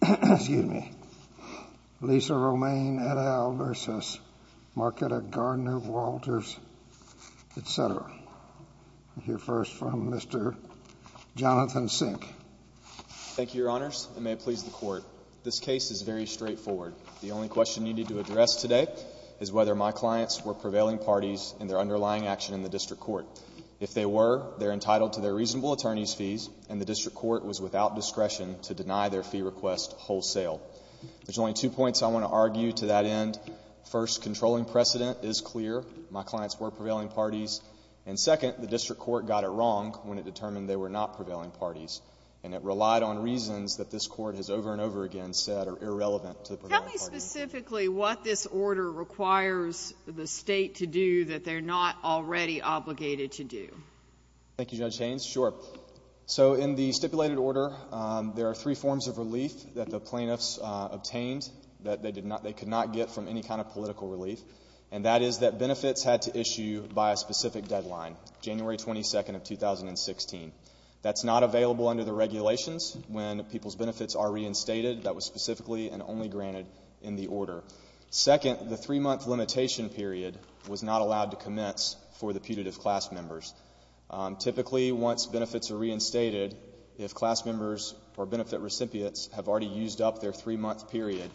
Thank you, Your Honors, and may it please the Court. This case is very straightforward. The only question needed to address today is whether my clients were prevailing parties in their underlying action in the District Court. If they were, they are entitled to their reasonable attorney's fees, and the District Court was without discretion to deny their fee request wholesale. There's only two points I want to argue to that end. First, controlling precedent is clear. My clients were prevailing parties. And second, the District Court got it wrong when it determined they were not prevailing parties, and it relied on reasons that this Court has over and over again said are irrelevant to the prevailing parties. Sotomayor Tell me specifically what this order requires the State to do that they're not already obligated to do. Thank you, Judge Haynes. Sure. So in the stipulated order, there are three forms of relief that the plaintiffs obtained that they could not get from any kind of political relief, and that is that benefits had to issue by a specific deadline, January 22nd of 2016. That's not available under the regulations. When people's benefits are reinstated, that was specifically and only granted in the order. Second, the three-month limitation period was not allowed to commence for the putative class members. Typically, once benefits are reinstated, if class members or benefit recipients have already used up their three-month period,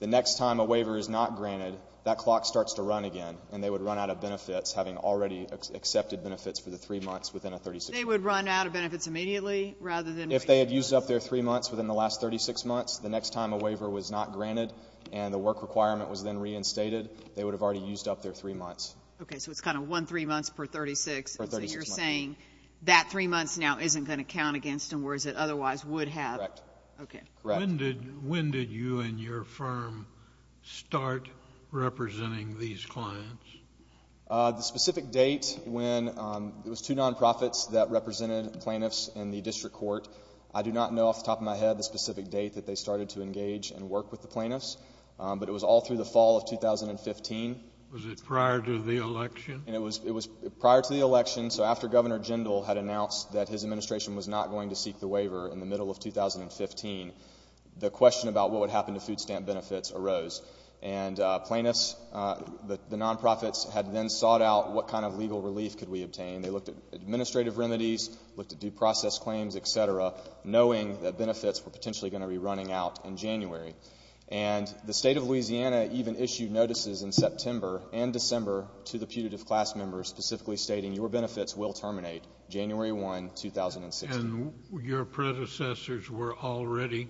the next time a waiver is not granted, that clock starts to run again, and they would run out of benefits, having already accepted benefits for the three months within a 36-month period. They would run out of benefits immediately rather than wait? If they had used up their three months within the last 36 months, the next time a waiver was not granted and the work requirement was then reinstated, they would have already used up their three months. Okay, so it's kind of one three months per 36. Per 36 months. So you're saying that three months now isn't going to count against them, whereas it otherwise would have. Correct. Okay. Correct. When did you and your firm start representing these clients? The specific date when it was two non-profits that represented plaintiffs in the district court. I do not know off the top of my head the specific date that they started to engage and work with the plaintiffs, but it was all through the fall of 2015. Was it prior to the election? And it was prior to the election, so after Governor Jindal had announced that his administration was not going to seek the waiver in the middle of 2015, the question about what would happen to food stamp benefits arose. And plaintiffs, the non-profits, had then sought out what kind of legal relief could we obtain. They looked at administrative remedies, looked at due process claims, et cetera, knowing that benefits were potentially going to be running out in January. And the State of Louisiana even issued notices in September and December to the putative class members specifically stating your benefits will terminate January 1, 2016. And your predecessors were already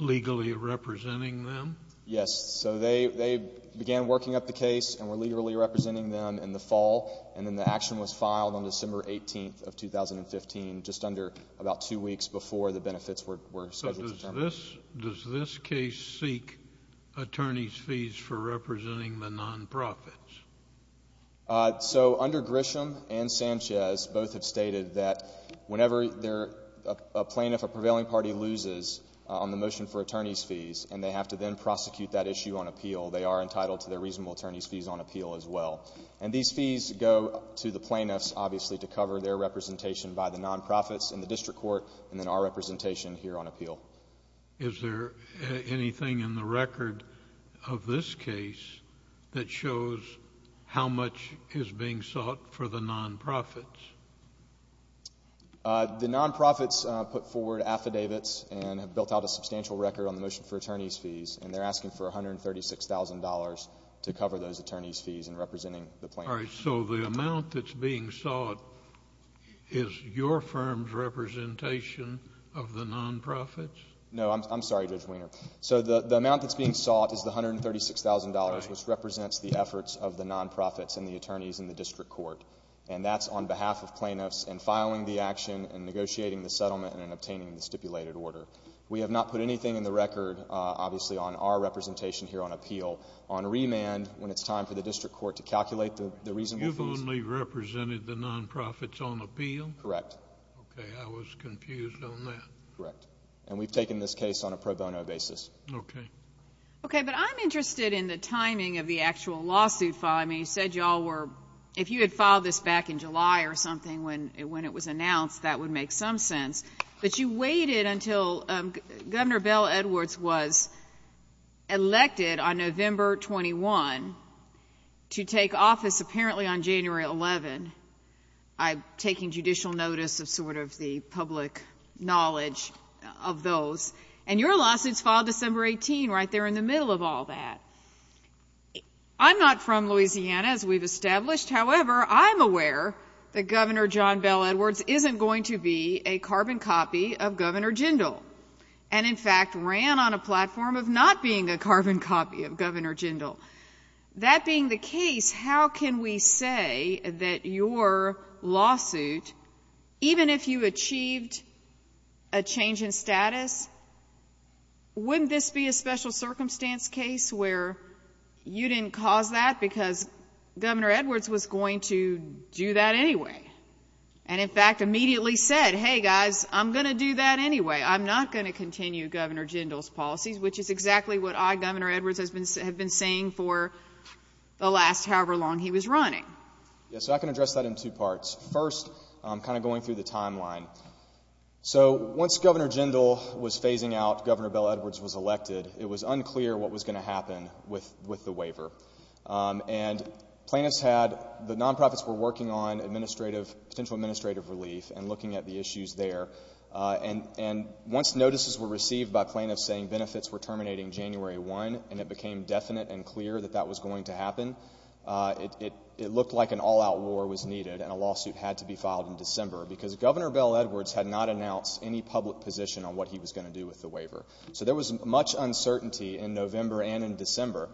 legally representing them? Yes. So they began working up the case and were legally representing them in the fall, and then the action was filed on December 18th of 2015, just under about two weeks before the benefits were scheduled to terminate. Does this case seek attorney's fees for representing the non-profits? So under Grisham and Sanchez, both have stated that whenever a plaintiff, a prevailing party, loses on the motion for attorney's fees, and they have to then prosecute that issue on appeal, they are entitled to their reasonable attorney's fees on appeal as well. And these fees go to the plaintiffs, obviously, to cover their representation by the non-profits in the district court and then our representation here on appeal. Is there anything in the record of this case that shows how much is being sought for the non-profits? The non-profits put forward affidavits and have built out a substantial record on the motion for attorney's fees, and they're asking for $136,000 to cover those attorney's fees in representing the plaintiffs. All right. So the amount that's being sought is your firm's representation of the non-profits? No. I'm sorry, Judge Wiener. So the amount that's being sought is the $136,000, which represents the efforts of the non-profits and the attorneys in the district court, and that's on behalf of plaintiffs in filing the action and negotiating the settlement and obtaining the stipulated order. We have not put anything in the record, obviously, on our representation here on appeal. On remand, when it's time for the district court to calculate the reasonable fees. You've only represented the non-profits on appeal? Correct. Okay. I was confused on that. Correct. And we've taken this case on a pro bono basis. Okay. Okay. But I'm interested in the timing of the actual lawsuit filing. You said you all were, if you had filed this back in July or something when it was announced, that would make some sense. But you waited until Governor Bell Edwards was elected on November 21 to take office apparently on January 11, taking judicial notice of sort of the public knowledge of those. And your lawsuit's filed December 18, right there in the middle of all that. I'm not from Louisiana, as we've established, however, I'm aware that Governor John Bell Edwards isn't going to be a carbon copy of Governor Jindal and, in fact, ran on a platform of not being a carbon copy of Governor Jindal. That being the case, how can we say that your lawsuit, even if you achieved a change in status, wouldn't this be a special circumstance case where you didn't cause that because Governor Edwards was going to do that anyway? And, in fact, immediately said, hey, guys, I'm going to do that anyway. I'm not going to continue Governor Jindal's policies, which is exactly what I, Governor Edwards, have been saying for the last however long he was running. Yeah, so I can address that in two parts. First, kind of going through the timeline. So once Governor Jindal was phasing out, Governor Bell Edwards was elected, it was unclear what was going to happen with the waiver. And plaintiffs had, the non-profits were working on administrative, potential administrative relief and looking at the issues there. And once notices were received by plaintiffs saying benefits were terminating January 1 and it became definite and clear that that was going to happen, it looked like an all-out war was needed and a lawsuit had to be filed in December because Governor Bell Edwards had not announced any public position on what he was going to do with the waiver. So there was much uncertainty in November and in December.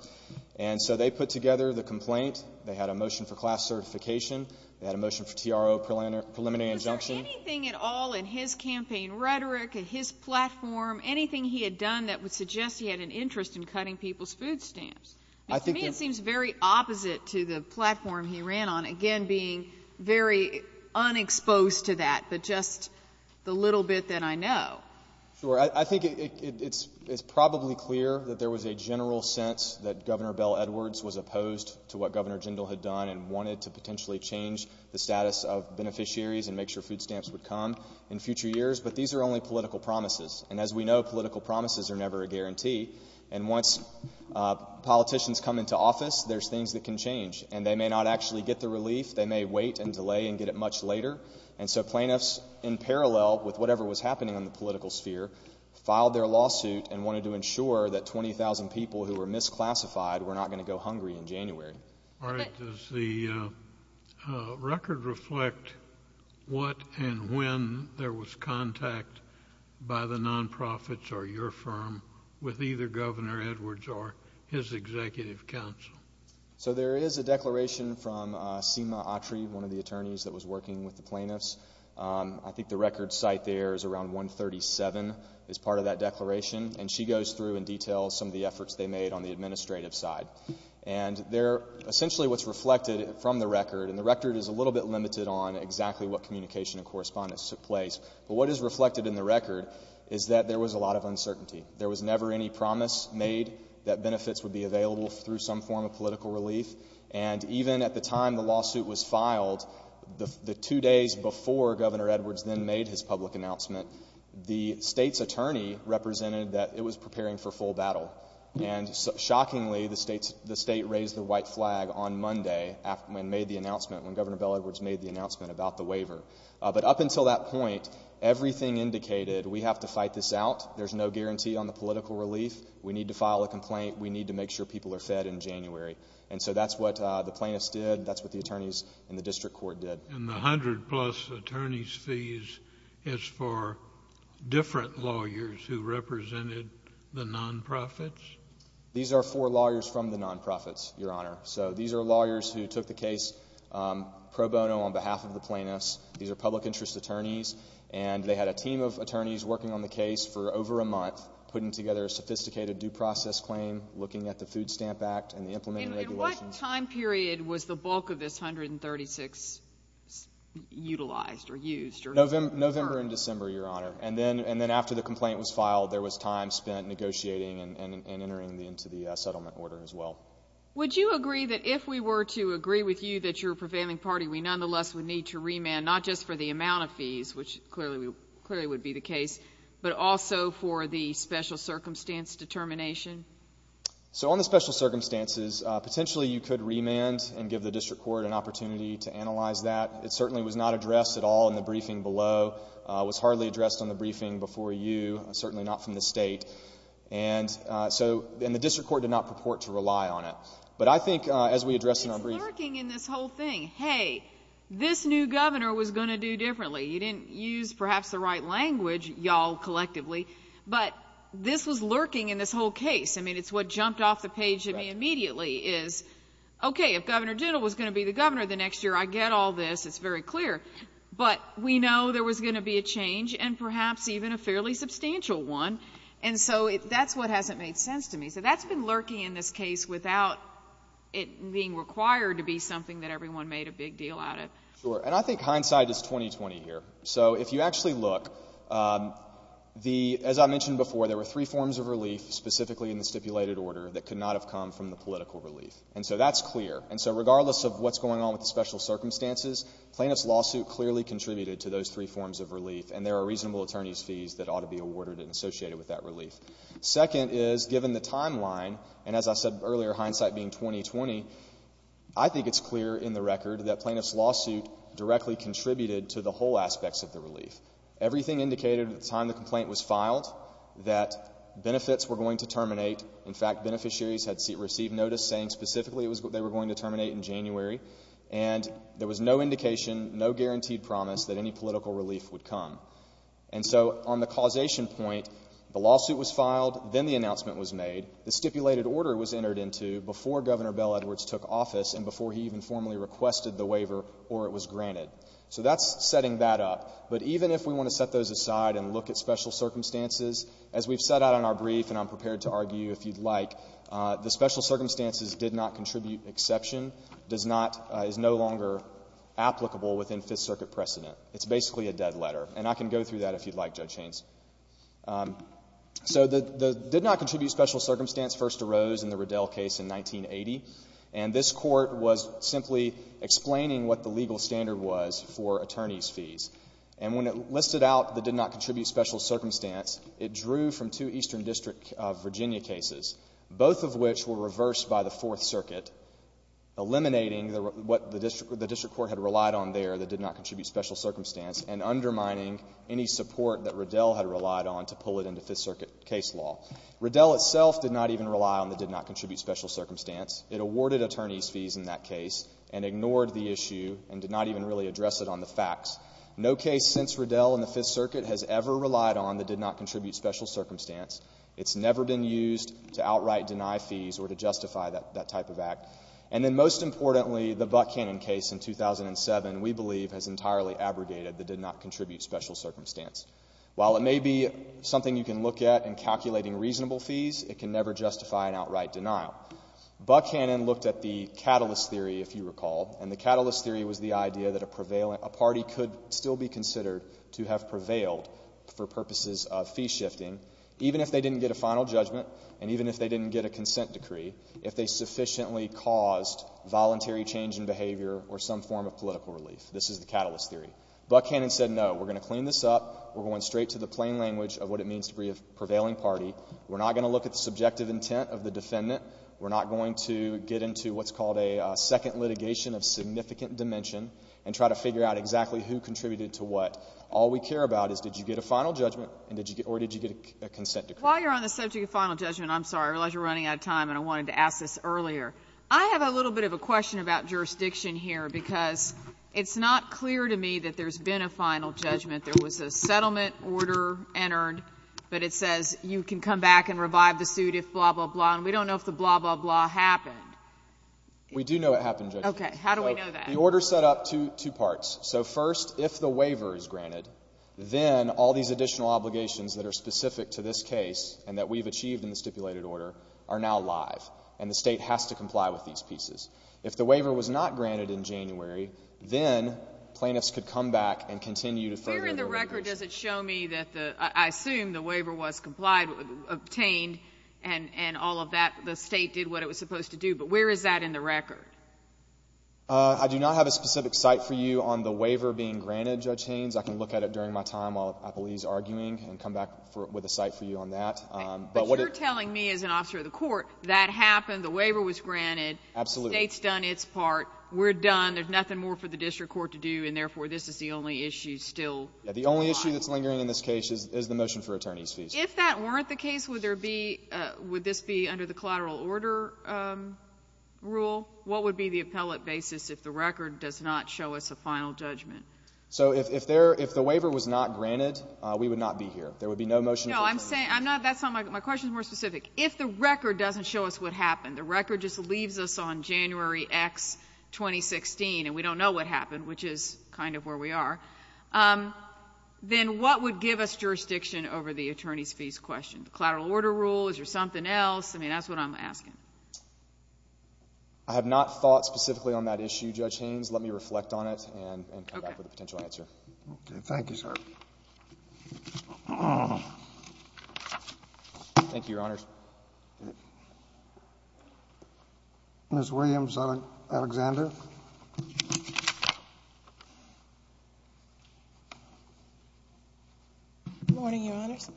And so they put together the complaint. They had a motion for class certification, they had a motion for TRO preliminary injunction. Was there anything at all in his campaign rhetoric, his platform, anything he had done that would suggest he had an interest in cutting people's food stamps? I think that... To me, it seems very opposite to the platform he ran on, again, being very unexposed to that, but just the little bit that I know. Sure, I think it's probably clear that there was a general sense that Governor Bell Edwards was opposed to what Governor Jindal had done and wanted to potentially change the status of beneficiaries and make sure food stamps would come in future years, but these are only political promises. And as we know, political promises are never a guarantee. And once politicians come into office, there's things that can change. And they may not actually get the relief, they may wait and delay and get it much later. And so plaintiffs, in parallel with whatever was happening in the political sphere, filed their lawsuit and wanted to ensure that 20,000 people who were misclassified were not going to go hungry in January. All right. Does the record reflect what and when there was contact by the nonprofits or your firm with either Governor Edwards or his executive counsel? So there is a declaration from Seema Atri, one of the attorneys that was working with plaintiffs. I think the record site there is around 137, is part of that declaration. And she goes through and details some of the efforts they made on the administrative side. And there, essentially what's reflected from the record, and the record is a little bit limited on exactly what communication and correspondence took place, but what is reflected in the record is that there was a lot of uncertainty. There was never any promise made that benefits would be available through some form of political relief. And even at the time the lawsuit was filed, the two days before Governor Edwards then made his public announcement, the state's attorney represented that it was preparing for full battle. And shockingly, the state raised the white flag on Monday when Governor Bill Edwards made the announcement about the waiver. But up until that point, everything indicated, we have to fight this out. There's no guarantee on the political relief. We need to file a complaint. We need to make sure people are fed in January. And so that's what the plaintiffs did, and that's what the attorneys in the district court did. And the 100 plus attorney's fees is for different lawyers who represented the non-profits? These are for lawyers from the non-profits, Your Honor. So these are lawyers who took the case pro bono on behalf of the plaintiffs. These are public interest attorneys, and they had a team of attorneys working on the case for over a month, putting together a sophisticated due process claim, looking at the Food Stamp Act and the implementing regulations. In what time period was the bulk of this $136 utilized or used? November and December, Your Honor. And then after the complaint was filed, there was time spent negotiating and entering into the settlement order as well. Would you agree that if we were to agree with you that you're a prevailing party, we nonetheless would need to remand, not just for the amount of fees, which clearly would be the case, but also for the special circumstance determination? So, on the special circumstances, potentially you could remand and give the district court an opportunity to analyze that. It certainly was not addressed at all in the briefing below, was hardly addressed on the briefing before you, certainly not from the state. And so, and the district court did not purport to rely on it. But I think as we address in our briefing... It's lurking in this whole thing. Hey, this new governor was going to do differently. You didn't use perhaps the right language, y'all, collectively, but this was lurking in this whole case. I mean, it's what jumped off the page to me immediately is, okay, if Governor Dittle was going to be the governor the next year, I get all this, it's very clear. But we know there was going to be a change and perhaps even a fairly substantial one. And so, that's what hasn't made sense to me. So, that's been lurking in this case without it being required to be something that everyone made a big deal out of. Sure. And I think hindsight is 20-20 here. So, if you actually look, the — as I mentioned before, there were three forms of relief, specifically in the stipulated order, that could not have come from the political relief. And so, that's clear. And so, regardless of what's going on with the special circumstances, plaintiff's lawsuit clearly contributed to those three forms of relief, and there are reasonable attorneys' fees that ought to be awarded and associated with that relief. Second is, given the timeline, and as I said earlier, hindsight being 20-20, I think it's clear in the record that plaintiff's lawsuit directly contributed to the whole aspects of the relief. Everything indicated at the time the complaint was filed that benefits were going to terminate. In fact, beneficiaries had received notice saying specifically it was — they were going to terminate in January. And there was no indication, no guaranteed promise that any political relief would come. And so, on the causation point, the lawsuit was filed, then the announcement was made. The stipulated order was entered into before Governor Bell Edwards took office and before he even formally requested the waiver or it was granted. So that's setting that up. But even if we want to set those aside and look at special circumstances, as we've set out in our brief, and I'm prepared to argue if you'd like, the special circumstances did not contribute exception, does not — is no longer applicable within Fifth Circuit precedent. It's basically a dead letter, and I can go through that if you'd like, Judge Haynes. So the — the did not contribute special circumstance first arose in the Riddell case in 1980. And this Court was simply explaining what the legal standard was for attorneys' fees. And when it listed out the did not contribute special circumstance, it drew from two Eastern District of Virginia cases, both of which were reversed by the Fourth Circuit, eliminating what the district — the district court had relied on there, the did not contribute special circumstance, and undermining any support that Riddell had relied on to pull it into Fifth Circuit case law. Riddell itself did not even rely on the did not contribute special circumstance. It awarded attorneys' fees in that case and ignored the issue and did not even really address it on the facts. No case since Riddell in the Fifth Circuit has ever relied on the did not contribute special circumstance. It's never been used to outright deny fees or to justify that — that type of act. And then most importantly, the Buckhannon case in 2007, we believe, has entirely abrogated the did not contribute special circumstance. While it may be something you can look at in calculating reasonable fees, it can never justify an outright denial. Buckhannon looked at the catalyst theory, if you recall, and the catalyst theory was the idea that a party could still be considered to have prevailed for purposes of fee shifting, even if they didn't get a final judgment and even if they didn't get a consent decree, if they sufficiently caused voluntary change in behavior or some form of political relief. This is the catalyst theory. Buckhannon said, no, we're going to clean this up. We're going straight to the plain language of what it means to be a prevailing party. We're not going to look at the subjective intent of the defendant. We're not going to get into what's called a second litigation of significant dimension and try to figure out exactly who contributed to what. All we care about is did you get a final judgment or did you get a consent decree. While you're on the subject of final judgment, I'm sorry, I realize you're running out of time, and I wanted to ask this earlier. I have a little bit of a question about jurisdiction here, because it's not clear to me that there's been a final judgment. There was a settlement order entered, but it says you can come back and revive the suit if blah, blah, blah, and we don't know if the blah, blah, blah happened. We do know it happened, Judge. Okay. How do we know that? The order set up two parts. So first, if the waiver is granted, then all these additional obligations that are specific to this case and that we've achieved in the stipulated order are now live, and the State has to comply with these pieces. If the waiver was not granted in January, then plaintiffs could come back and continue to further their obligations. Where in the record does it show me that the, I assume the waiver was complied, obtained, and all of that, the State did what it was supposed to do, but where is that in the record? I do not have a specific site for you on the waiver being granted, Judge Haynes. I can look at it during my time while Appleby is arguing and come back with a site for you on that. But you're telling me, as an officer of the court, that happened, the waiver was granted, the State's done its part, we're done, there's nothing more for the district court to do, and therefore this is the only issue still alive? Yeah, the only issue that's lingering in this case is the motion for attorney's fees. If that weren't the case, would there be, would this be under the collateral order rule? What would be the appellate basis if the record does not show us a final judgment? So if there, if the waiver was not granted, we would not be here. There would be no motion for attorneys. No, I'm saying, I'm not, that's not my, my question's more specific. If the record doesn't show us what happened, the record just leaves us on January X, 2016, and we don't know what happened, which is kind of where we are, then what would give us jurisdiction over the attorney's fees question? Collateral order rule, is there something else? I mean, that's what I'm asking. I have not thought specifically on that issue, Judge Haynes. Let me reflect on it and, and come back with a potential answer. Okay, thank you, sir. Thank you, Your Honors. Ms. Williams-Alexander. Good morning, Your Honors.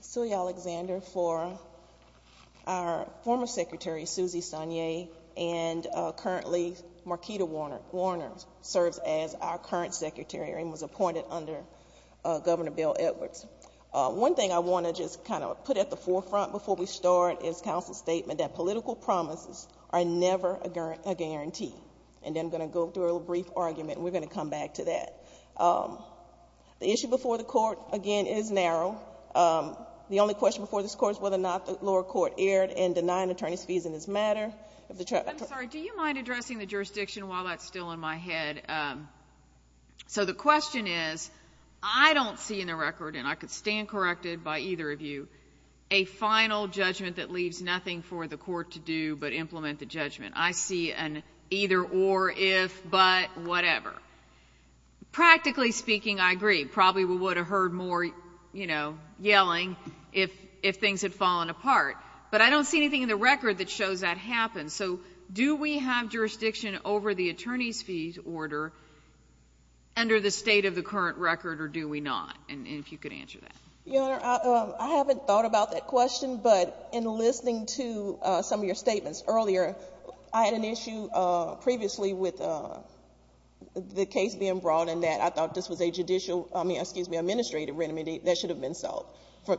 Celia Alexander for our former Secretary, Susie Sonnier, and currently Marquita Warner, Warner serves as our current Secretary and was appointed under Governor Bill Edwards. One thing I want to just kind of put at the forefront before we start is counsel's statement that political promises are never a guarantee, and then I'm going to go through a little brief argument, and we're going to come back to that. The issue before the Court, again, is narrow. The only question before this Court is whether or not the lower court erred in denying attorney's fees in this matter. I'm sorry, do you mind addressing the jurisdiction while that's still in my head? And so the question is, I don't see in the record, and I could stand corrected by either of you, a final judgment that leaves nothing for the Court to do but implement the judgment. I see an either, or, if, but, whatever. Practically speaking, I agree. Probably we would have heard more, you know, yelling if, if things had fallen apart. But I don't see anything in the record that shows that happened. So do we have jurisdiction over the attorney's fees order under the state of the current record, or do we not, and if you could answer that. Your Honor, I haven't thought about that question, but in listening to some of your statements earlier, I had an issue previously with the case being brought in that I thought this was a judicial, I mean, excuse me, administrative remedy that should have been solved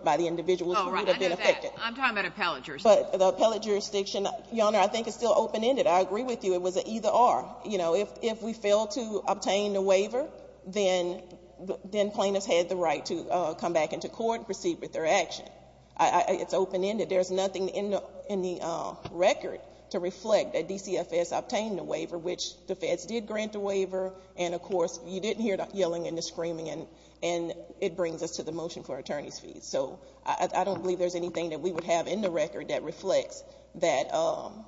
by the individuals who would have been affected. Oh, right. I know that. I'm talking about appellate jurisdiction. But the appellate jurisdiction, Your Honor, I think it's still open-ended. I agree with you. It was an either, or. You know, if we fail to obtain the waiver, then plaintiffs had the right to come back into court and proceed with their action. It's open-ended. There's nothing in the record to reflect that DCFS obtained the waiver, which the feds did grant the waiver, and, of course, you didn't hear the yelling and the screaming, and it brings us to the motion for attorney's fees. So I don't believe there's anything that we would have in the record that reflects that. So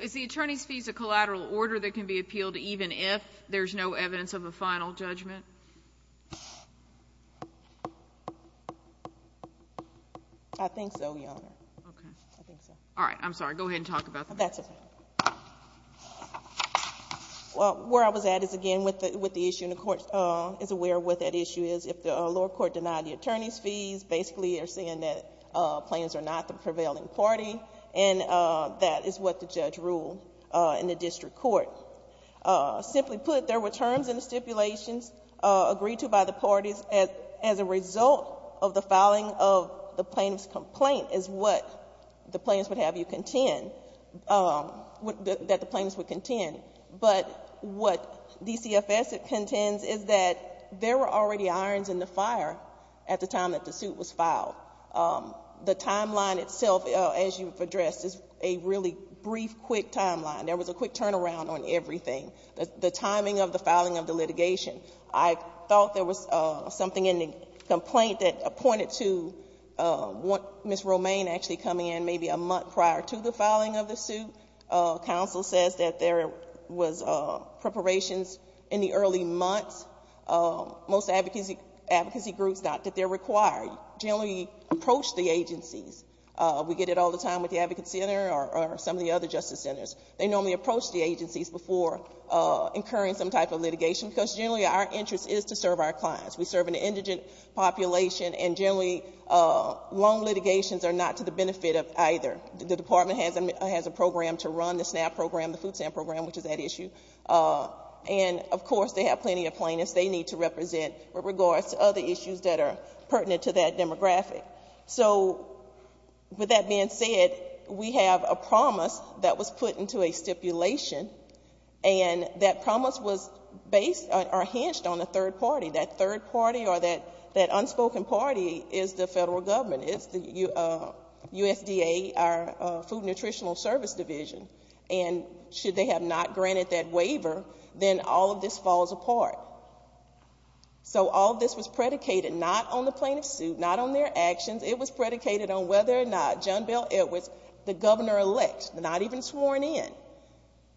is the attorney's fees a collateral order that can be appealed even if there's no evidence of a final judgment? I think so, Your Honor. Okay. I think so. All right. I'm sorry. Go ahead and talk about that. That's okay. Well, where I was at is, again, with the issue, and the Court is aware of what that issue is. If the lower court denied the attorney's fees, basically, they're saying that plaintiffs are not the prevailing party, and that is what the judge ruled in the district court. Simply put, there were terms in the stipulations agreed to by the parties as a result of the filing of the plaintiff's complaint is what the plaintiffs would have you contend, that the plaintiffs would contend. But what DCFS contends is that there were already irons in the fire at the time that the suit was filed. The timeline itself, as you've addressed, is a really brief, quick timeline. There was a quick turnaround on everything. The timing of the filing of the litigation. I thought there was something in the complaint that pointed to Ms. Romaine actually coming in maybe a month prior to the filing of the suit. The litigation counsel says that there was preparations in the early months. Most advocacy groups, not that they're required, generally approach the agencies. We get it all the time with the Advocacy Center or some of the other justice centers. They normally approach the agencies before incurring some type of litigation, because generally, our interest is to serve our clients. We serve an indigent population, and generally, long litigations are not to the benefit of either. The department has a program to run, the SNAP program, the Food Stamp program, which is that issue. And of course, they have plenty of plaintiffs they need to represent with regards to other issues that are pertinent to that demographic. So with that being said, we have a promise that was put into a stipulation, and that promise was based or hinged on a third party. That third party or that unspoken party is the federal government. It's the USDA, our Food and Nutritional Service Division. And should they have not granted that waiver, then all of this falls apart. So all of this was predicated not on the plaintiff's suit, not on their actions. It was predicated on whether or not John Bel Edwards, the governor-elect, not even sworn in,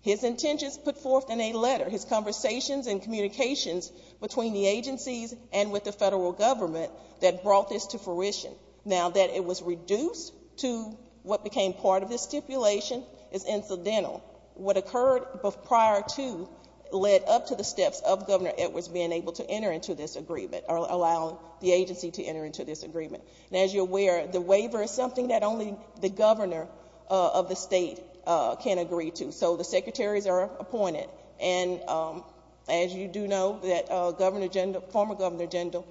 his intentions put forth in a letter, his conversations and communications between the agencies and with the federal government that brought this to fruition. Now, that it was reduced to what became part of this stipulation is incidental. What occurred prior to led up to the steps of the governor, it was being able to enter into this agreement or allow the agency to enter into this agreement. And as you're aware, the waiver is something that only the governor of the state can agree to. So the secretaries are appointed. And as you do know, that former Governor Jindal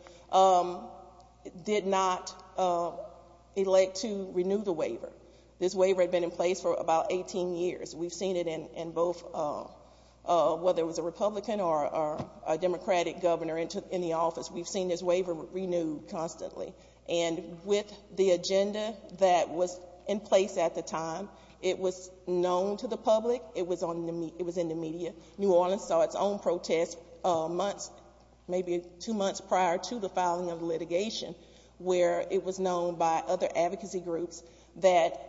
did not elect to renew the waiver. This waiver had been in place for about 18 years. We've seen it in both, whether it was a Republican or a Democratic governor in the office, we've seen this waiver renewed constantly. And with the agenda that was in place at the time, it was known to the public, it was in the media. New Orleans saw its own protest months, maybe two months prior to the filing of the litigation, where it was known by other advocacy groups that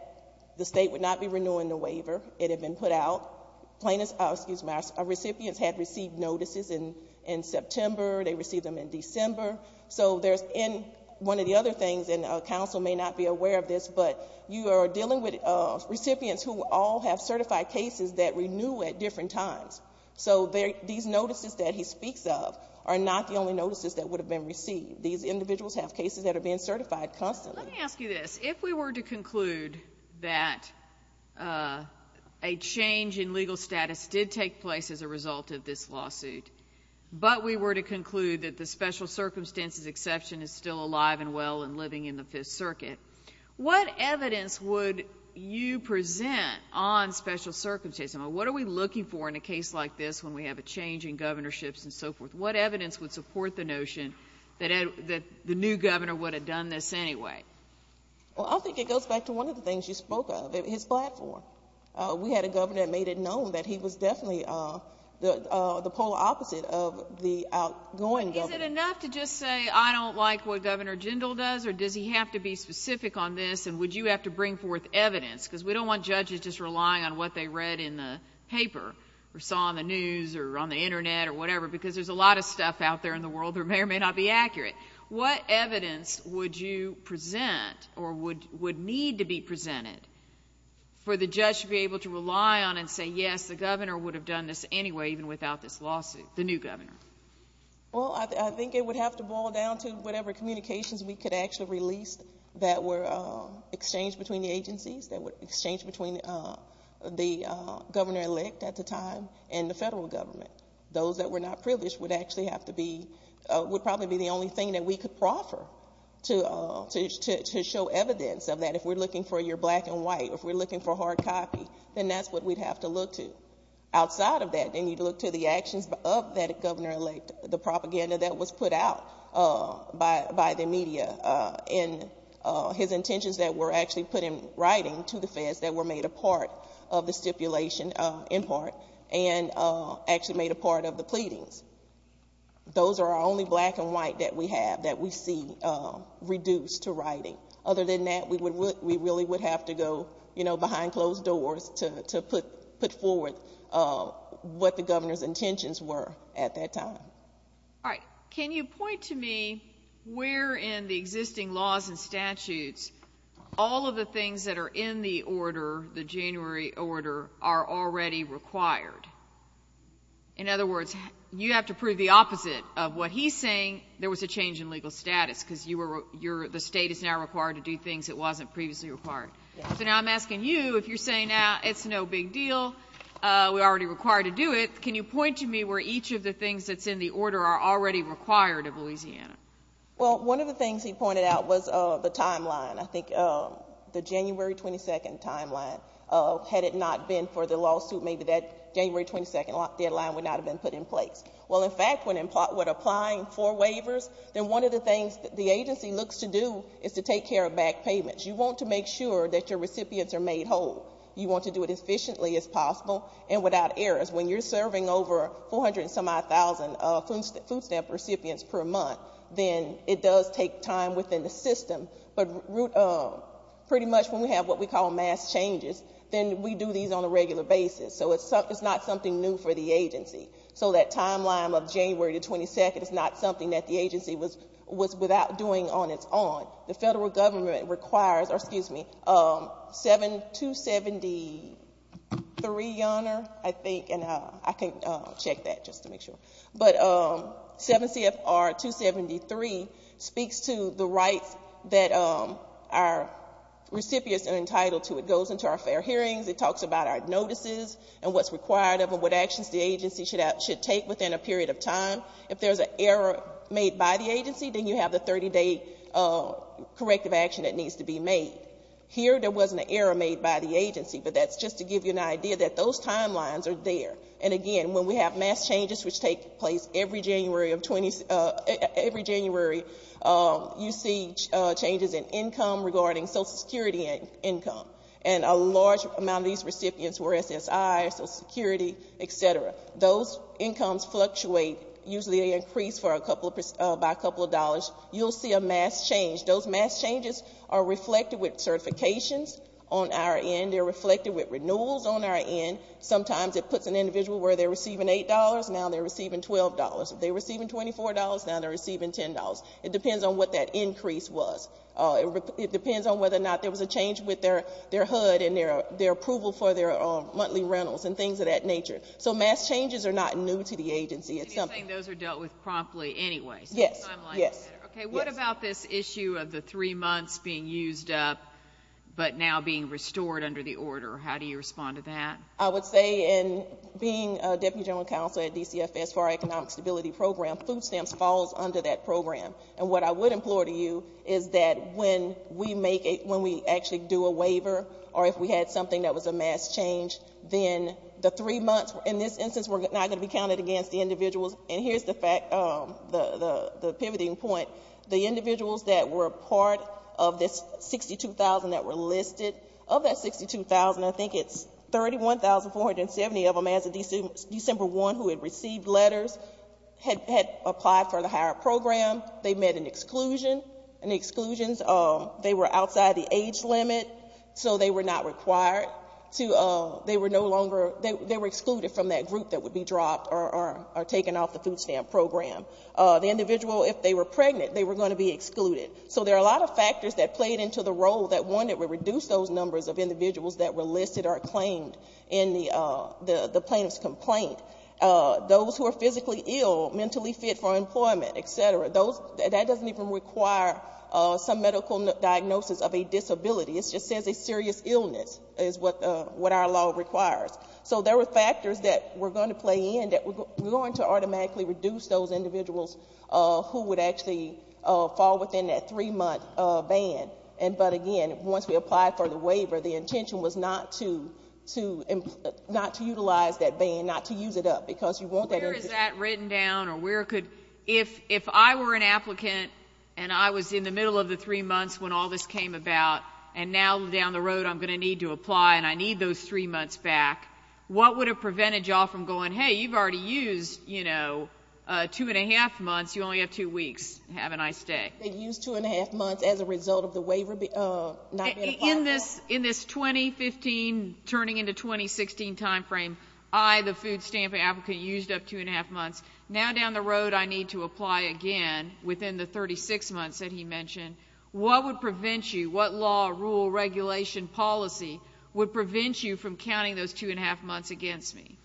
the state would not be renewing the waiver. It had been put out. Recipients had received notices in September, they received them in December. So there's one of the other things, and counsel may not be aware of this, but you are dealing with recipients who all have certified cases that renew at different times. So these notices that he speaks of are not the only notices that would have been received. These individuals have cases that are being certified constantly. Let me ask you this. If we were to conclude that a change in legal status did take place as a result of this lawsuit, but we were to conclude that the special circumstances exception is still alive and well and living in the Fifth Circuit, what evidence would you present on special circumstances? I mean, what are we looking for in a case like this when we have a change in governorships and so forth? What evidence would support the notion that the new governor would have done this anyway? Well, I think it goes back to one of the things you spoke of, his platform. We had a governor that made it known that he was definitely the polar opposite of the outgoing governor. Is it enough to just say, I don't like what Governor Jindal does, or does he have to be specific on this, and would you have to bring forth evidence? Because we don't want judges just relying on what they read in the paper, or saw on the news, or on the internet, or whatever, because there's a lot of stuff out there in the world that may or may not be accurate. What evidence would you present, or would need to be presented, for the judge to be able to rely on and say, yes, the governor would have done this anyway, even without this lawsuit, the new governor? Well, I think it would have to boil down to whatever communications we could actually release that were exchanged between the agencies, that were exchanged between the governor-elect at the time and the federal government. Those that were not privileged would actually have to be, would probably be the only thing that we could proffer to show evidence of that. If we're looking for your black and white, if we're looking for hard copy, then that's what we'd have to look to. The fact that the governor-elect, the propaganda that was put out by the media, and his intentions that were actually put in writing to the feds that were made a part of the stipulation, in part, and actually made a part of the pleadings. Those are our only black and white that we have that we see reduced to writing. Other than that, we really would have to go, you know, behind closed doors to put forward what the governor's intentions were at that time. All right. Can you point to me where in the existing laws and statutes all of the things that are in the order, the January order, are already required? In other words, you have to prove the opposite of what he's saying, there was a change in legal status because you were, you're, the state is now required to do things it wasn't previously required. So now I'm asking you, if you're saying now it's no big deal, we're already required to do it, can you point to me where each of the things that's in the order are already required of Louisiana? Well, one of the things he pointed out was the timeline. I think the January 22nd timeline, had it not been for the lawsuit, maybe that January 22nd deadline would not have been put in place. Well, in fact, when applying for waivers, then one of the things that the agency looks to do is to take care of back payments. You want to make sure that your recipients are made whole. You want to do it as efficiently as possible and without errors. When you're serving over 400 and some-odd thousand food stamp recipients per month, then it does take time within the system, but pretty much when we have what we call mass changes, then we do these on a regular basis. So it's not something new for the agency. So that timeline of January 22nd is not something that the agency was without doing on its own. The federal government requires, or excuse me, 7273, Your Honor, I think, and I can check that just to make sure, but 7 CFR 273 speaks to the rights that our recipients are entitled to. It goes into our fair hearings. It talks about our notices and what's required of them, what actions the agency should take within a period of time. If there's an error made by the agency, then you have the 30-day corrective action that needs to be made. Here, there wasn't an error made by the agency, but that's just to give you an idea that those timelines are there. And again, when we have mass changes, which take place every January, you see changes in income regarding Social Security income. And a large amount of these recipients were SSI, Social Security, et cetera. Those incomes fluctuate, usually they increase by a couple of dollars. You'll see a mass change. Those mass changes are reflected with certifications on our end, they're reflected with renewals on our end. Sometimes it puts an individual where they're receiving $8, now they're receiving $12. If they're receiving $24, now they're receiving $10. It depends on what that increase was. It depends on whether or not there was a change with their HUD and their approval for their monthly rentals and things of that nature. So mass changes are not new to the agency. It's something- And you're saying those are dealt with promptly anyway. Yes. So the timelines are there. Yes. Okay, what about this issue of the three months being used up, but now being restored under the order? How do you respond to that? I would say in being a Deputy General Counsel at DCFS for our Economic Stability Program, food stamps falls under that program. And what I would implore to you is that when we actually do a waiver, or if we had something that was a mass change, then the three months, in this instance, were not going to be counted against the individuals. And here's the fact, the pivoting point. The individuals that were part of this 62,000 that were listed, of that 62,000, I think it's 31,470 of them as of December 1 who had received letters, had applied for the higher program. They met an exclusion, and the exclusions, they were outside the age limit. So they were not required to, they were no longer, they were excluded from that group that would be dropped or taken off the food stamp program. The individual, if they were pregnant, they were going to be excluded. So there are a lot of factors that played into the role that one, it would reduce those numbers of individuals that were listed or claimed in the plaintiff's complaint. Those who are physically ill, mentally fit for employment, et cetera, those, that doesn't even require some medical diagnosis of a disability. It just says a serious illness, is what our law requires. So there were factors that were going to play in, that were going to automatically reduce those individuals who would actually fall within that three-month ban. And but again, once we applied for the waiver, the intention was not to, not to utilize that ban, not to use it up, because you want that individual. Where is that written down, or where could, if I were an applicant, and I was in the middle of the three months when all this came about, and now down the road, I'm going to need to apply and I need those three months back, what would have prevented you all from going, hey, you've already used, you know, two and a half months, you only have two weeks, have a nice day? They used two and a half months as a result of the waiver not being applied. In this 2015, turning into 2016 timeframe, I, the food stamp applicant, used up two and a half months. Now down the road, I need to apply again within the 36 months that he mentioned. What would prevent you, what law, rule, regulation, policy would prevent you from counting those two and a half months against me?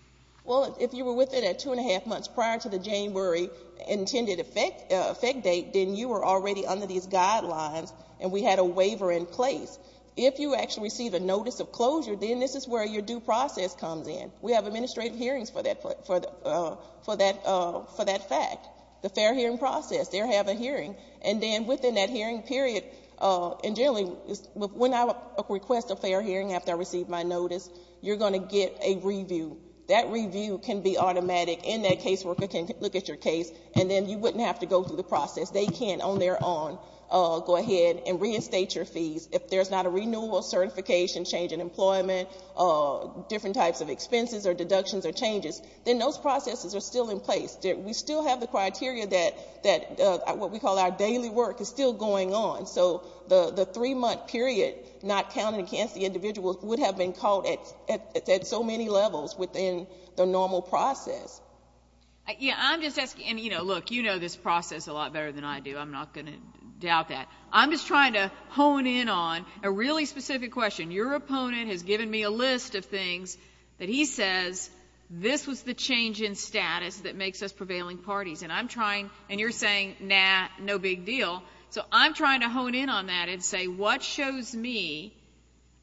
Well, if you were within that two and a half months prior to the January intended effect date, then you were already under these guidelines, and we had a waiver in place. If you actually receive a notice of closure, then this is where your due process comes in. We have administrative hearings for that fact, the fair hearing process, they have a hearing, and then within that hearing period, and generally, when I request a fair hearing after I receive my notice, you're going to get a review. That review can be automatic, and that caseworker can look at your case, and then you wouldn't have to go through the process, they can on their own go ahead and reinstate your fees. If there's not a renewal, certification, change in employment, different types of expenses or deductions or changes, then those processes are still in place. We still have the criteria that what we call our daily work is still going on, so the three month period, not counting against the individual would have been caught at so many levels within the normal process. Yeah, I'm just asking, and you know, look, you know this process a lot better than I do, I'm not going to doubt that. I'm just trying to hone in on a really specific question. Your opponent has given me a list of things that he says, this was the change in status that makes us prevailing parties, and I'm trying, and you're saying, nah, no big deal, so I'm trying to hone in on that and say, what shows me,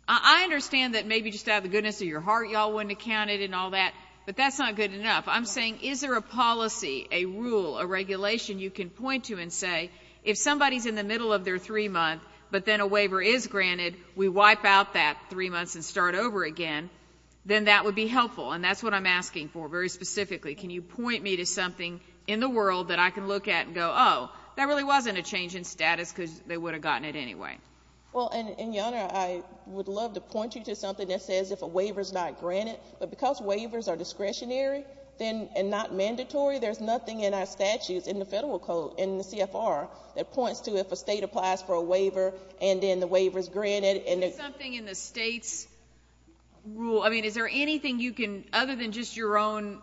I understand that maybe just out of the goodness of your heart, y'all wouldn't have counted and all that, but that's not good enough. I'm saying, is there a policy, a rule, a regulation you can point to and say, if somebody's in the middle of their three month, but then a waiver is granted, we wipe out that three months and start over again, then that would be helpful, and that's what I'm asking for, very specifically. Can you point me to something in the world that I can look at and go, oh, that really wasn't a change in status because they would have gotten it anyway. Well, and Your Honor, I would love to point you to something that says if a waiver's not granted, but because waivers are discretionary and not mandatory, there's nothing in our state that applies for a waiver, and then the waiver's granted, and there's- Is there something in the state's rule, I mean, is there anything you can, other than just your own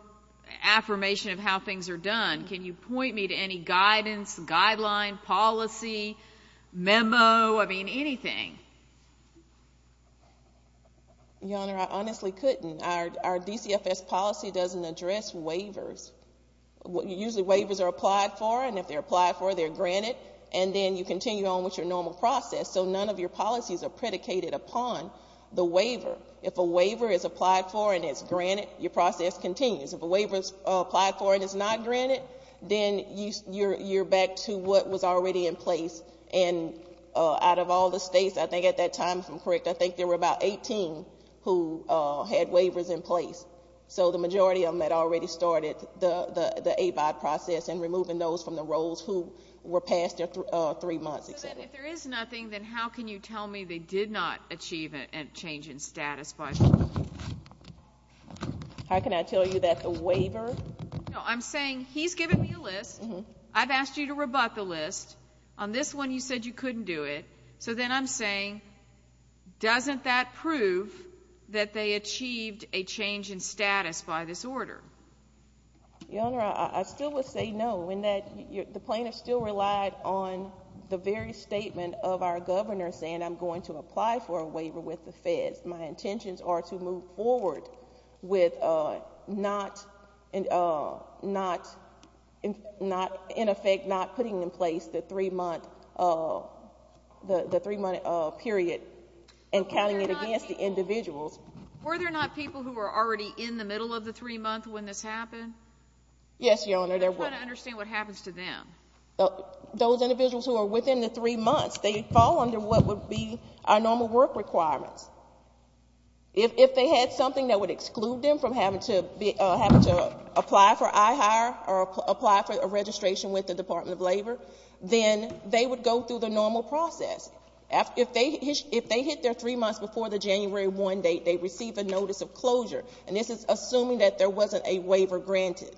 affirmation of how things are done, can you point me to any guidance, guideline, policy, memo, I mean, anything? Your Honor, I honestly couldn't. Our DCFS policy doesn't address waivers. Usually waivers are applied for, and if they're applied for, they're granted, and then you continue on with your normal process, so none of your policies are predicated upon the waiver. If a waiver is applied for and it's granted, your process continues. If a waiver's applied for and it's not granted, then you're back to what was already in place, and out of all the states, I think at that time, if I'm correct, I think there were about 18 who had waivers in place. So the majority of them had already started the ABOD process and removing those from the roles who were past their three months, et cetera. So then, if there is nothing, then how can you tell me they did not achieve a change in status by the waiver? How can I tell you that the waiver- No, I'm saying, he's given me a list, I've asked you to rebut the list, on this one you said you couldn't do it, so then I'm saying, doesn't that prove that they achieved a change in status by this order? Your Honor, I still would say no, in that the plaintiff still relied on the very statement of our governor saying, I'm going to apply for a waiver with the feds, my intentions are to move forward with not, in effect, not putting in place the three-month period and counting it against the individuals. Were there not people who were already in the middle of the three-month when this happened? Yes, Your Honor, there were. I'm trying to understand what happens to them. Those individuals who are within the three months, they fall under what would be our If they had something that would exclude them from having to apply for I-Hire or apply for a registration with the Department of Labor, then they would go through the normal process. If they hit their three months before the January 1 date, they receive a notice of closure. And this is assuming that there wasn't a waiver granted.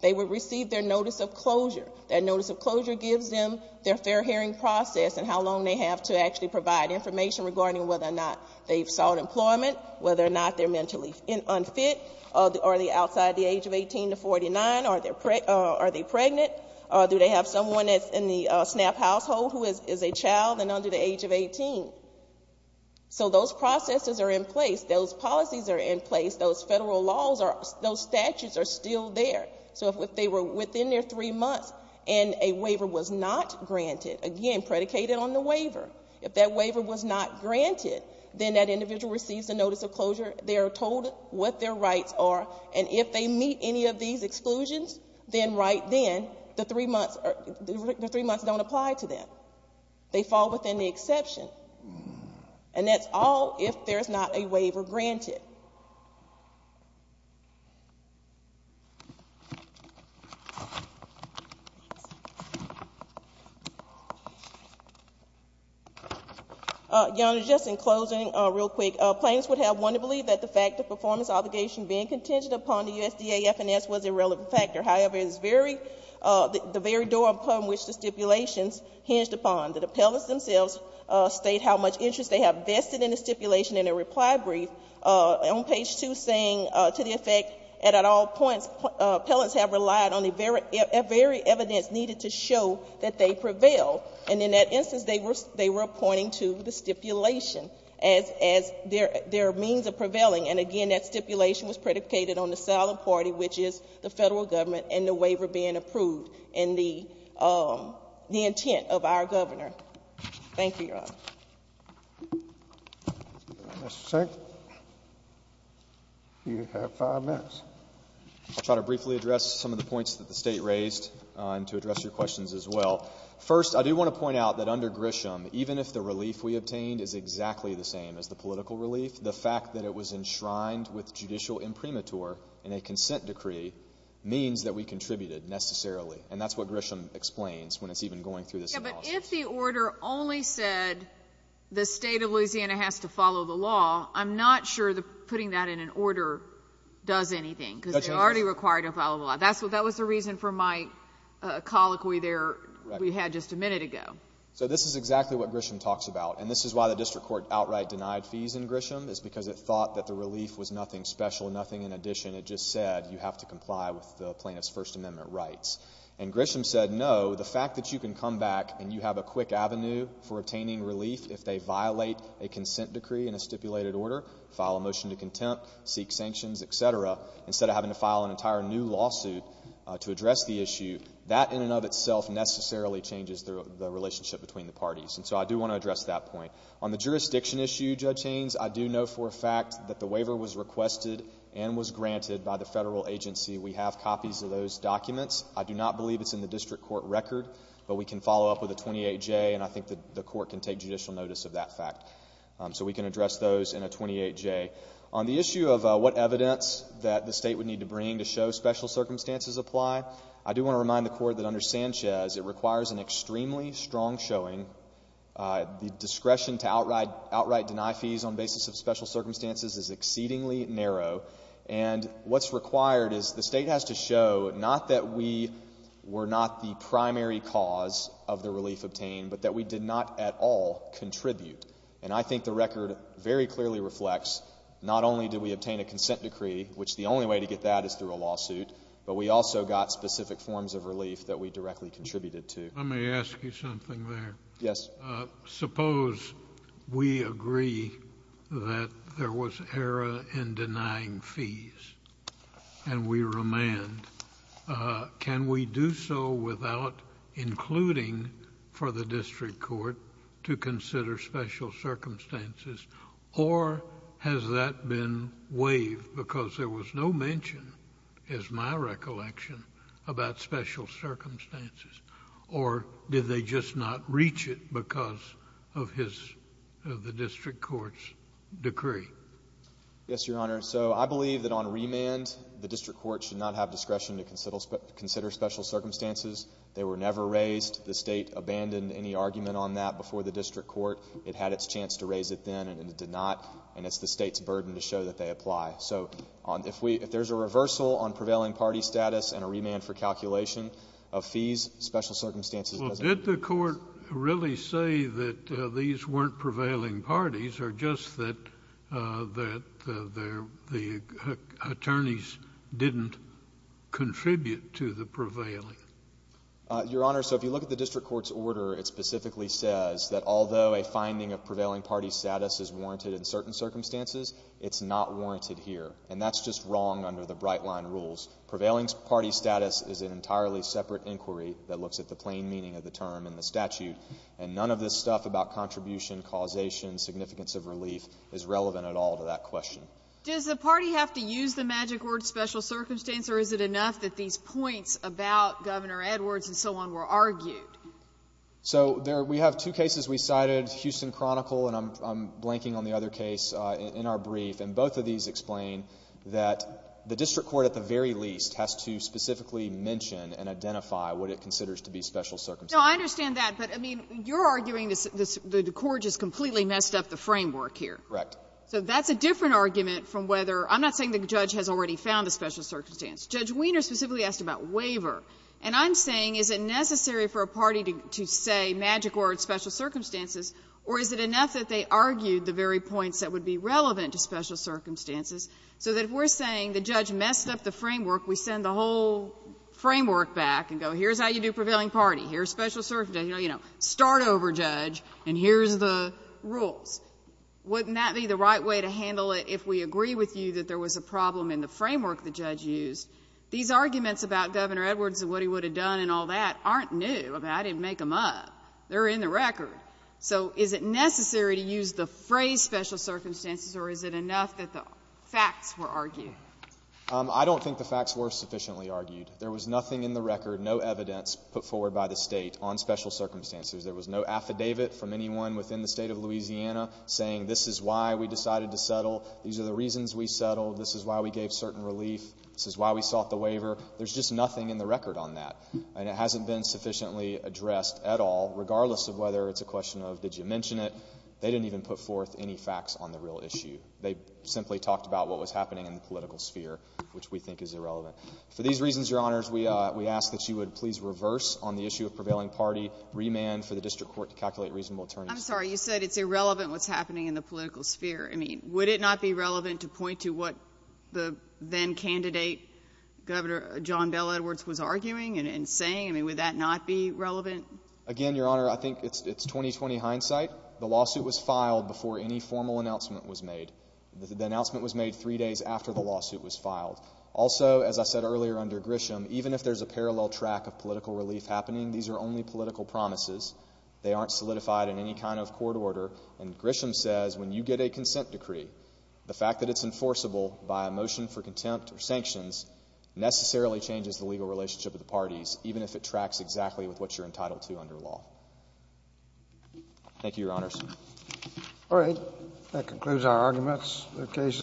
They would receive their notice of closure. That notice of closure gives them their fair hearing process and how long they have to actually provide information regarding whether or not they've sought employment, whether or not they're mentally unfit, are they outside the age of 18 to 49, are they pregnant, do they have someone that's in the SNAP household who is a child and under the age of 18. So those processes are in place, those policies are in place, those federal laws, those statutes are still there. So if they were within their three months and a waiver was not granted, again, predicated on the waiver. If that waiver was not granted, then that individual receives a notice of closure. They are told what their rights are. And if they meet any of these exclusions, then right then, the three months don't apply to them. They fall within the exception. And that's all if there's not a waiver granted. Your Honor, just in closing, real quick. Plaintiffs would have one to believe that the fact of performance obligation being contingent upon the USDA FNS was a relevant factor. However, it is very, the very door upon which the stipulations hinged upon. The appellants themselves state how much interest they have vested in the stipulation in a reply brief. On page two, saying to the effect, and at all points, appellants have relied on the very evidence needed to show that they prevail. And in that instance, they were appointing to the stipulation as their means of prevailing. And again, that stipulation was predicated on the solid party, which is the federal government and the waiver being approved in the intent of our governor. Thank you, Your Honor. Mr. Sink, you have five minutes. I'll try to briefly address some of the points that the state raised and to address your questions as well. First, I do want to point out that under Grisham, even if the relief we obtained is exactly the same as the political relief, the fact that it was enshrined with judicial imprimatur in a consent decree means that we contributed necessarily. And that's what Grisham explains when it's even going through this analysis. Yeah, but if the order only said the state of Louisiana has to follow the law, I'm not sure that putting that in an order does anything because they're already required to follow the law. That was the reason for my colloquy there we had just a minute ago. So this is exactly what Grisham talks about. And this is why the district court outright denied fees in Grisham, is because it thought that the relief was nothing special, nothing in addition. It just said you have to comply with the plaintiff's First Amendment rights. And Grisham said no, the fact that you can come back and you have a quick avenue for obtaining relief if they violate a consent decree in a stipulated order, file a motion to contempt, seek sanctions, etc. Instead of having to file an entire new lawsuit to address the issue, that in and of itself necessarily changes the relationship between the parties. And so I do want to address that point. On the jurisdiction issue, Judge Haynes, I do know for a fact that the waiver was requested and was granted by the federal agency. We have copies of those documents. I do not believe it's in the district court record. But we can follow up with a 28J, and I think the court can take judicial notice of that fact. So we can address those in a 28J. On the issue of what evidence that the state would need to bring to show special circumstances apply, I do want to remind the court that under Sanchez, it requires an extremely strong showing. The discretion to outright deny fees on basis of special circumstances is exceedingly narrow. And what's required is the state has to show not that we were not the primary cause of the relief obtained, but that we did not at all contribute. And I think the record very clearly reflects, not only did we obtain a consent decree, which the only way to get that is through a lawsuit, but we also got specific forms of relief that we directly contributed to. Let me ask you something there. Yes. Suppose we agree that there was error in denying fees, and we remand. Can we do so without including for the district court to consider special circumstances? Or has that been waived because there was no mention, is my recollection, about special circumstances? Or did they just not reach it because of his, of the district court's decree? Yes, Your Honor. So, I believe that on remand, the district court should not have discretion to consider special circumstances. They were never raised. The state abandoned any argument on that before the district court. It had its chance to raise it then, and it did not. And it's the state's burden to show that they apply. So, if there's a reversal on prevailing party status and a remand for calculation of fees, special circumstances doesn't- The attorneys didn't contribute to the prevailing. Your Honor, so if you look at the district court's order, it specifically says that although a finding of prevailing party status is warranted in certain circumstances, it's not warranted here. And that's just wrong under the Brightline rules. Prevailing party status is an entirely separate inquiry that looks at the plain meaning of the term in the statute. And none of this stuff about contribution, causation, significance of relief is relevant at all to that question. Does the party have to use the magic word special circumstance, or is it enough that these points about Governor Edwards and so on were argued? So, there we have two cases we cited, Houston Chronicle, and I'm blanking on the other case in our brief. And both of these explain that the district court at the very least has to specifically mention and identify what it considers to be special circumstances. No, I understand that. But, I mean, you're arguing the court just completely messed up the framework here. Correct. So that's a different argument from whether – I'm not saying the judge has already found a special circumstance. Judge Wiener specifically asked about waiver. And I'm saying, is it necessary for a party to say magic word special circumstances, or is it enough that they argued the very points that would be relevant to special circumstances, so that if we're saying the judge messed up the framework, we send the whole framework back and go, here's how you do prevailing party, here's special circumstance, you know, start over, judge, and here's the rules. Wouldn't that be the right way to handle it if we agree with you that there was a problem in the framework the judge used? These arguments about Governor Edwards and what he would have done and all that aren't new. I didn't make them up. They're in the record. So is it necessary to use the phrase special circumstances, or is it enough that the facts were argued? I don't think the facts were sufficiently argued. There was nothing in the record, no evidence put forward by the State on special circumstances. There was no affidavit from anyone within the State of Louisiana saying this is why we decided to settle, these are the reasons we settled, this is why we gave certain relief, this is why we sought the waiver. There's just nothing in the record on that. And it hasn't been sufficiently addressed at all, regardless of whether it's a question of did you mention it. They didn't even put forth any facts on the real issue. They simply talked about what was happening in the political sphere, which we think is irrelevant. For these reasons, Your Honors, we ask that you would please reverse on the issue of calculate reasonable attorneys. I'm sorry. You said it's irrelevant what's happening in the political sphere. I mean, would it not be relevant to point to what the then-candidate, Governor John Bel Edwards, was arguing and saying? I mean, would that not be relevant? Again, Your Honor, I think it's 20-20 hindsight. The lawsuit was filed before any formal announcement was made. The announcement was made three days after the lawsuit was filed. Also, as I said earlier under Grisham, even if there's a parallel track of political happening, these are only political promises. They aren't solidified in any kind of court order. And Grisham says when you get a consent decree, the fact that it's enforceable by a motion for contempt or sanctions necessarily changes the legal relationship of the parties, even if it tracks exactly with what you're entitled to under law. Thank you, Your Honors. All right. That concludes our arguments.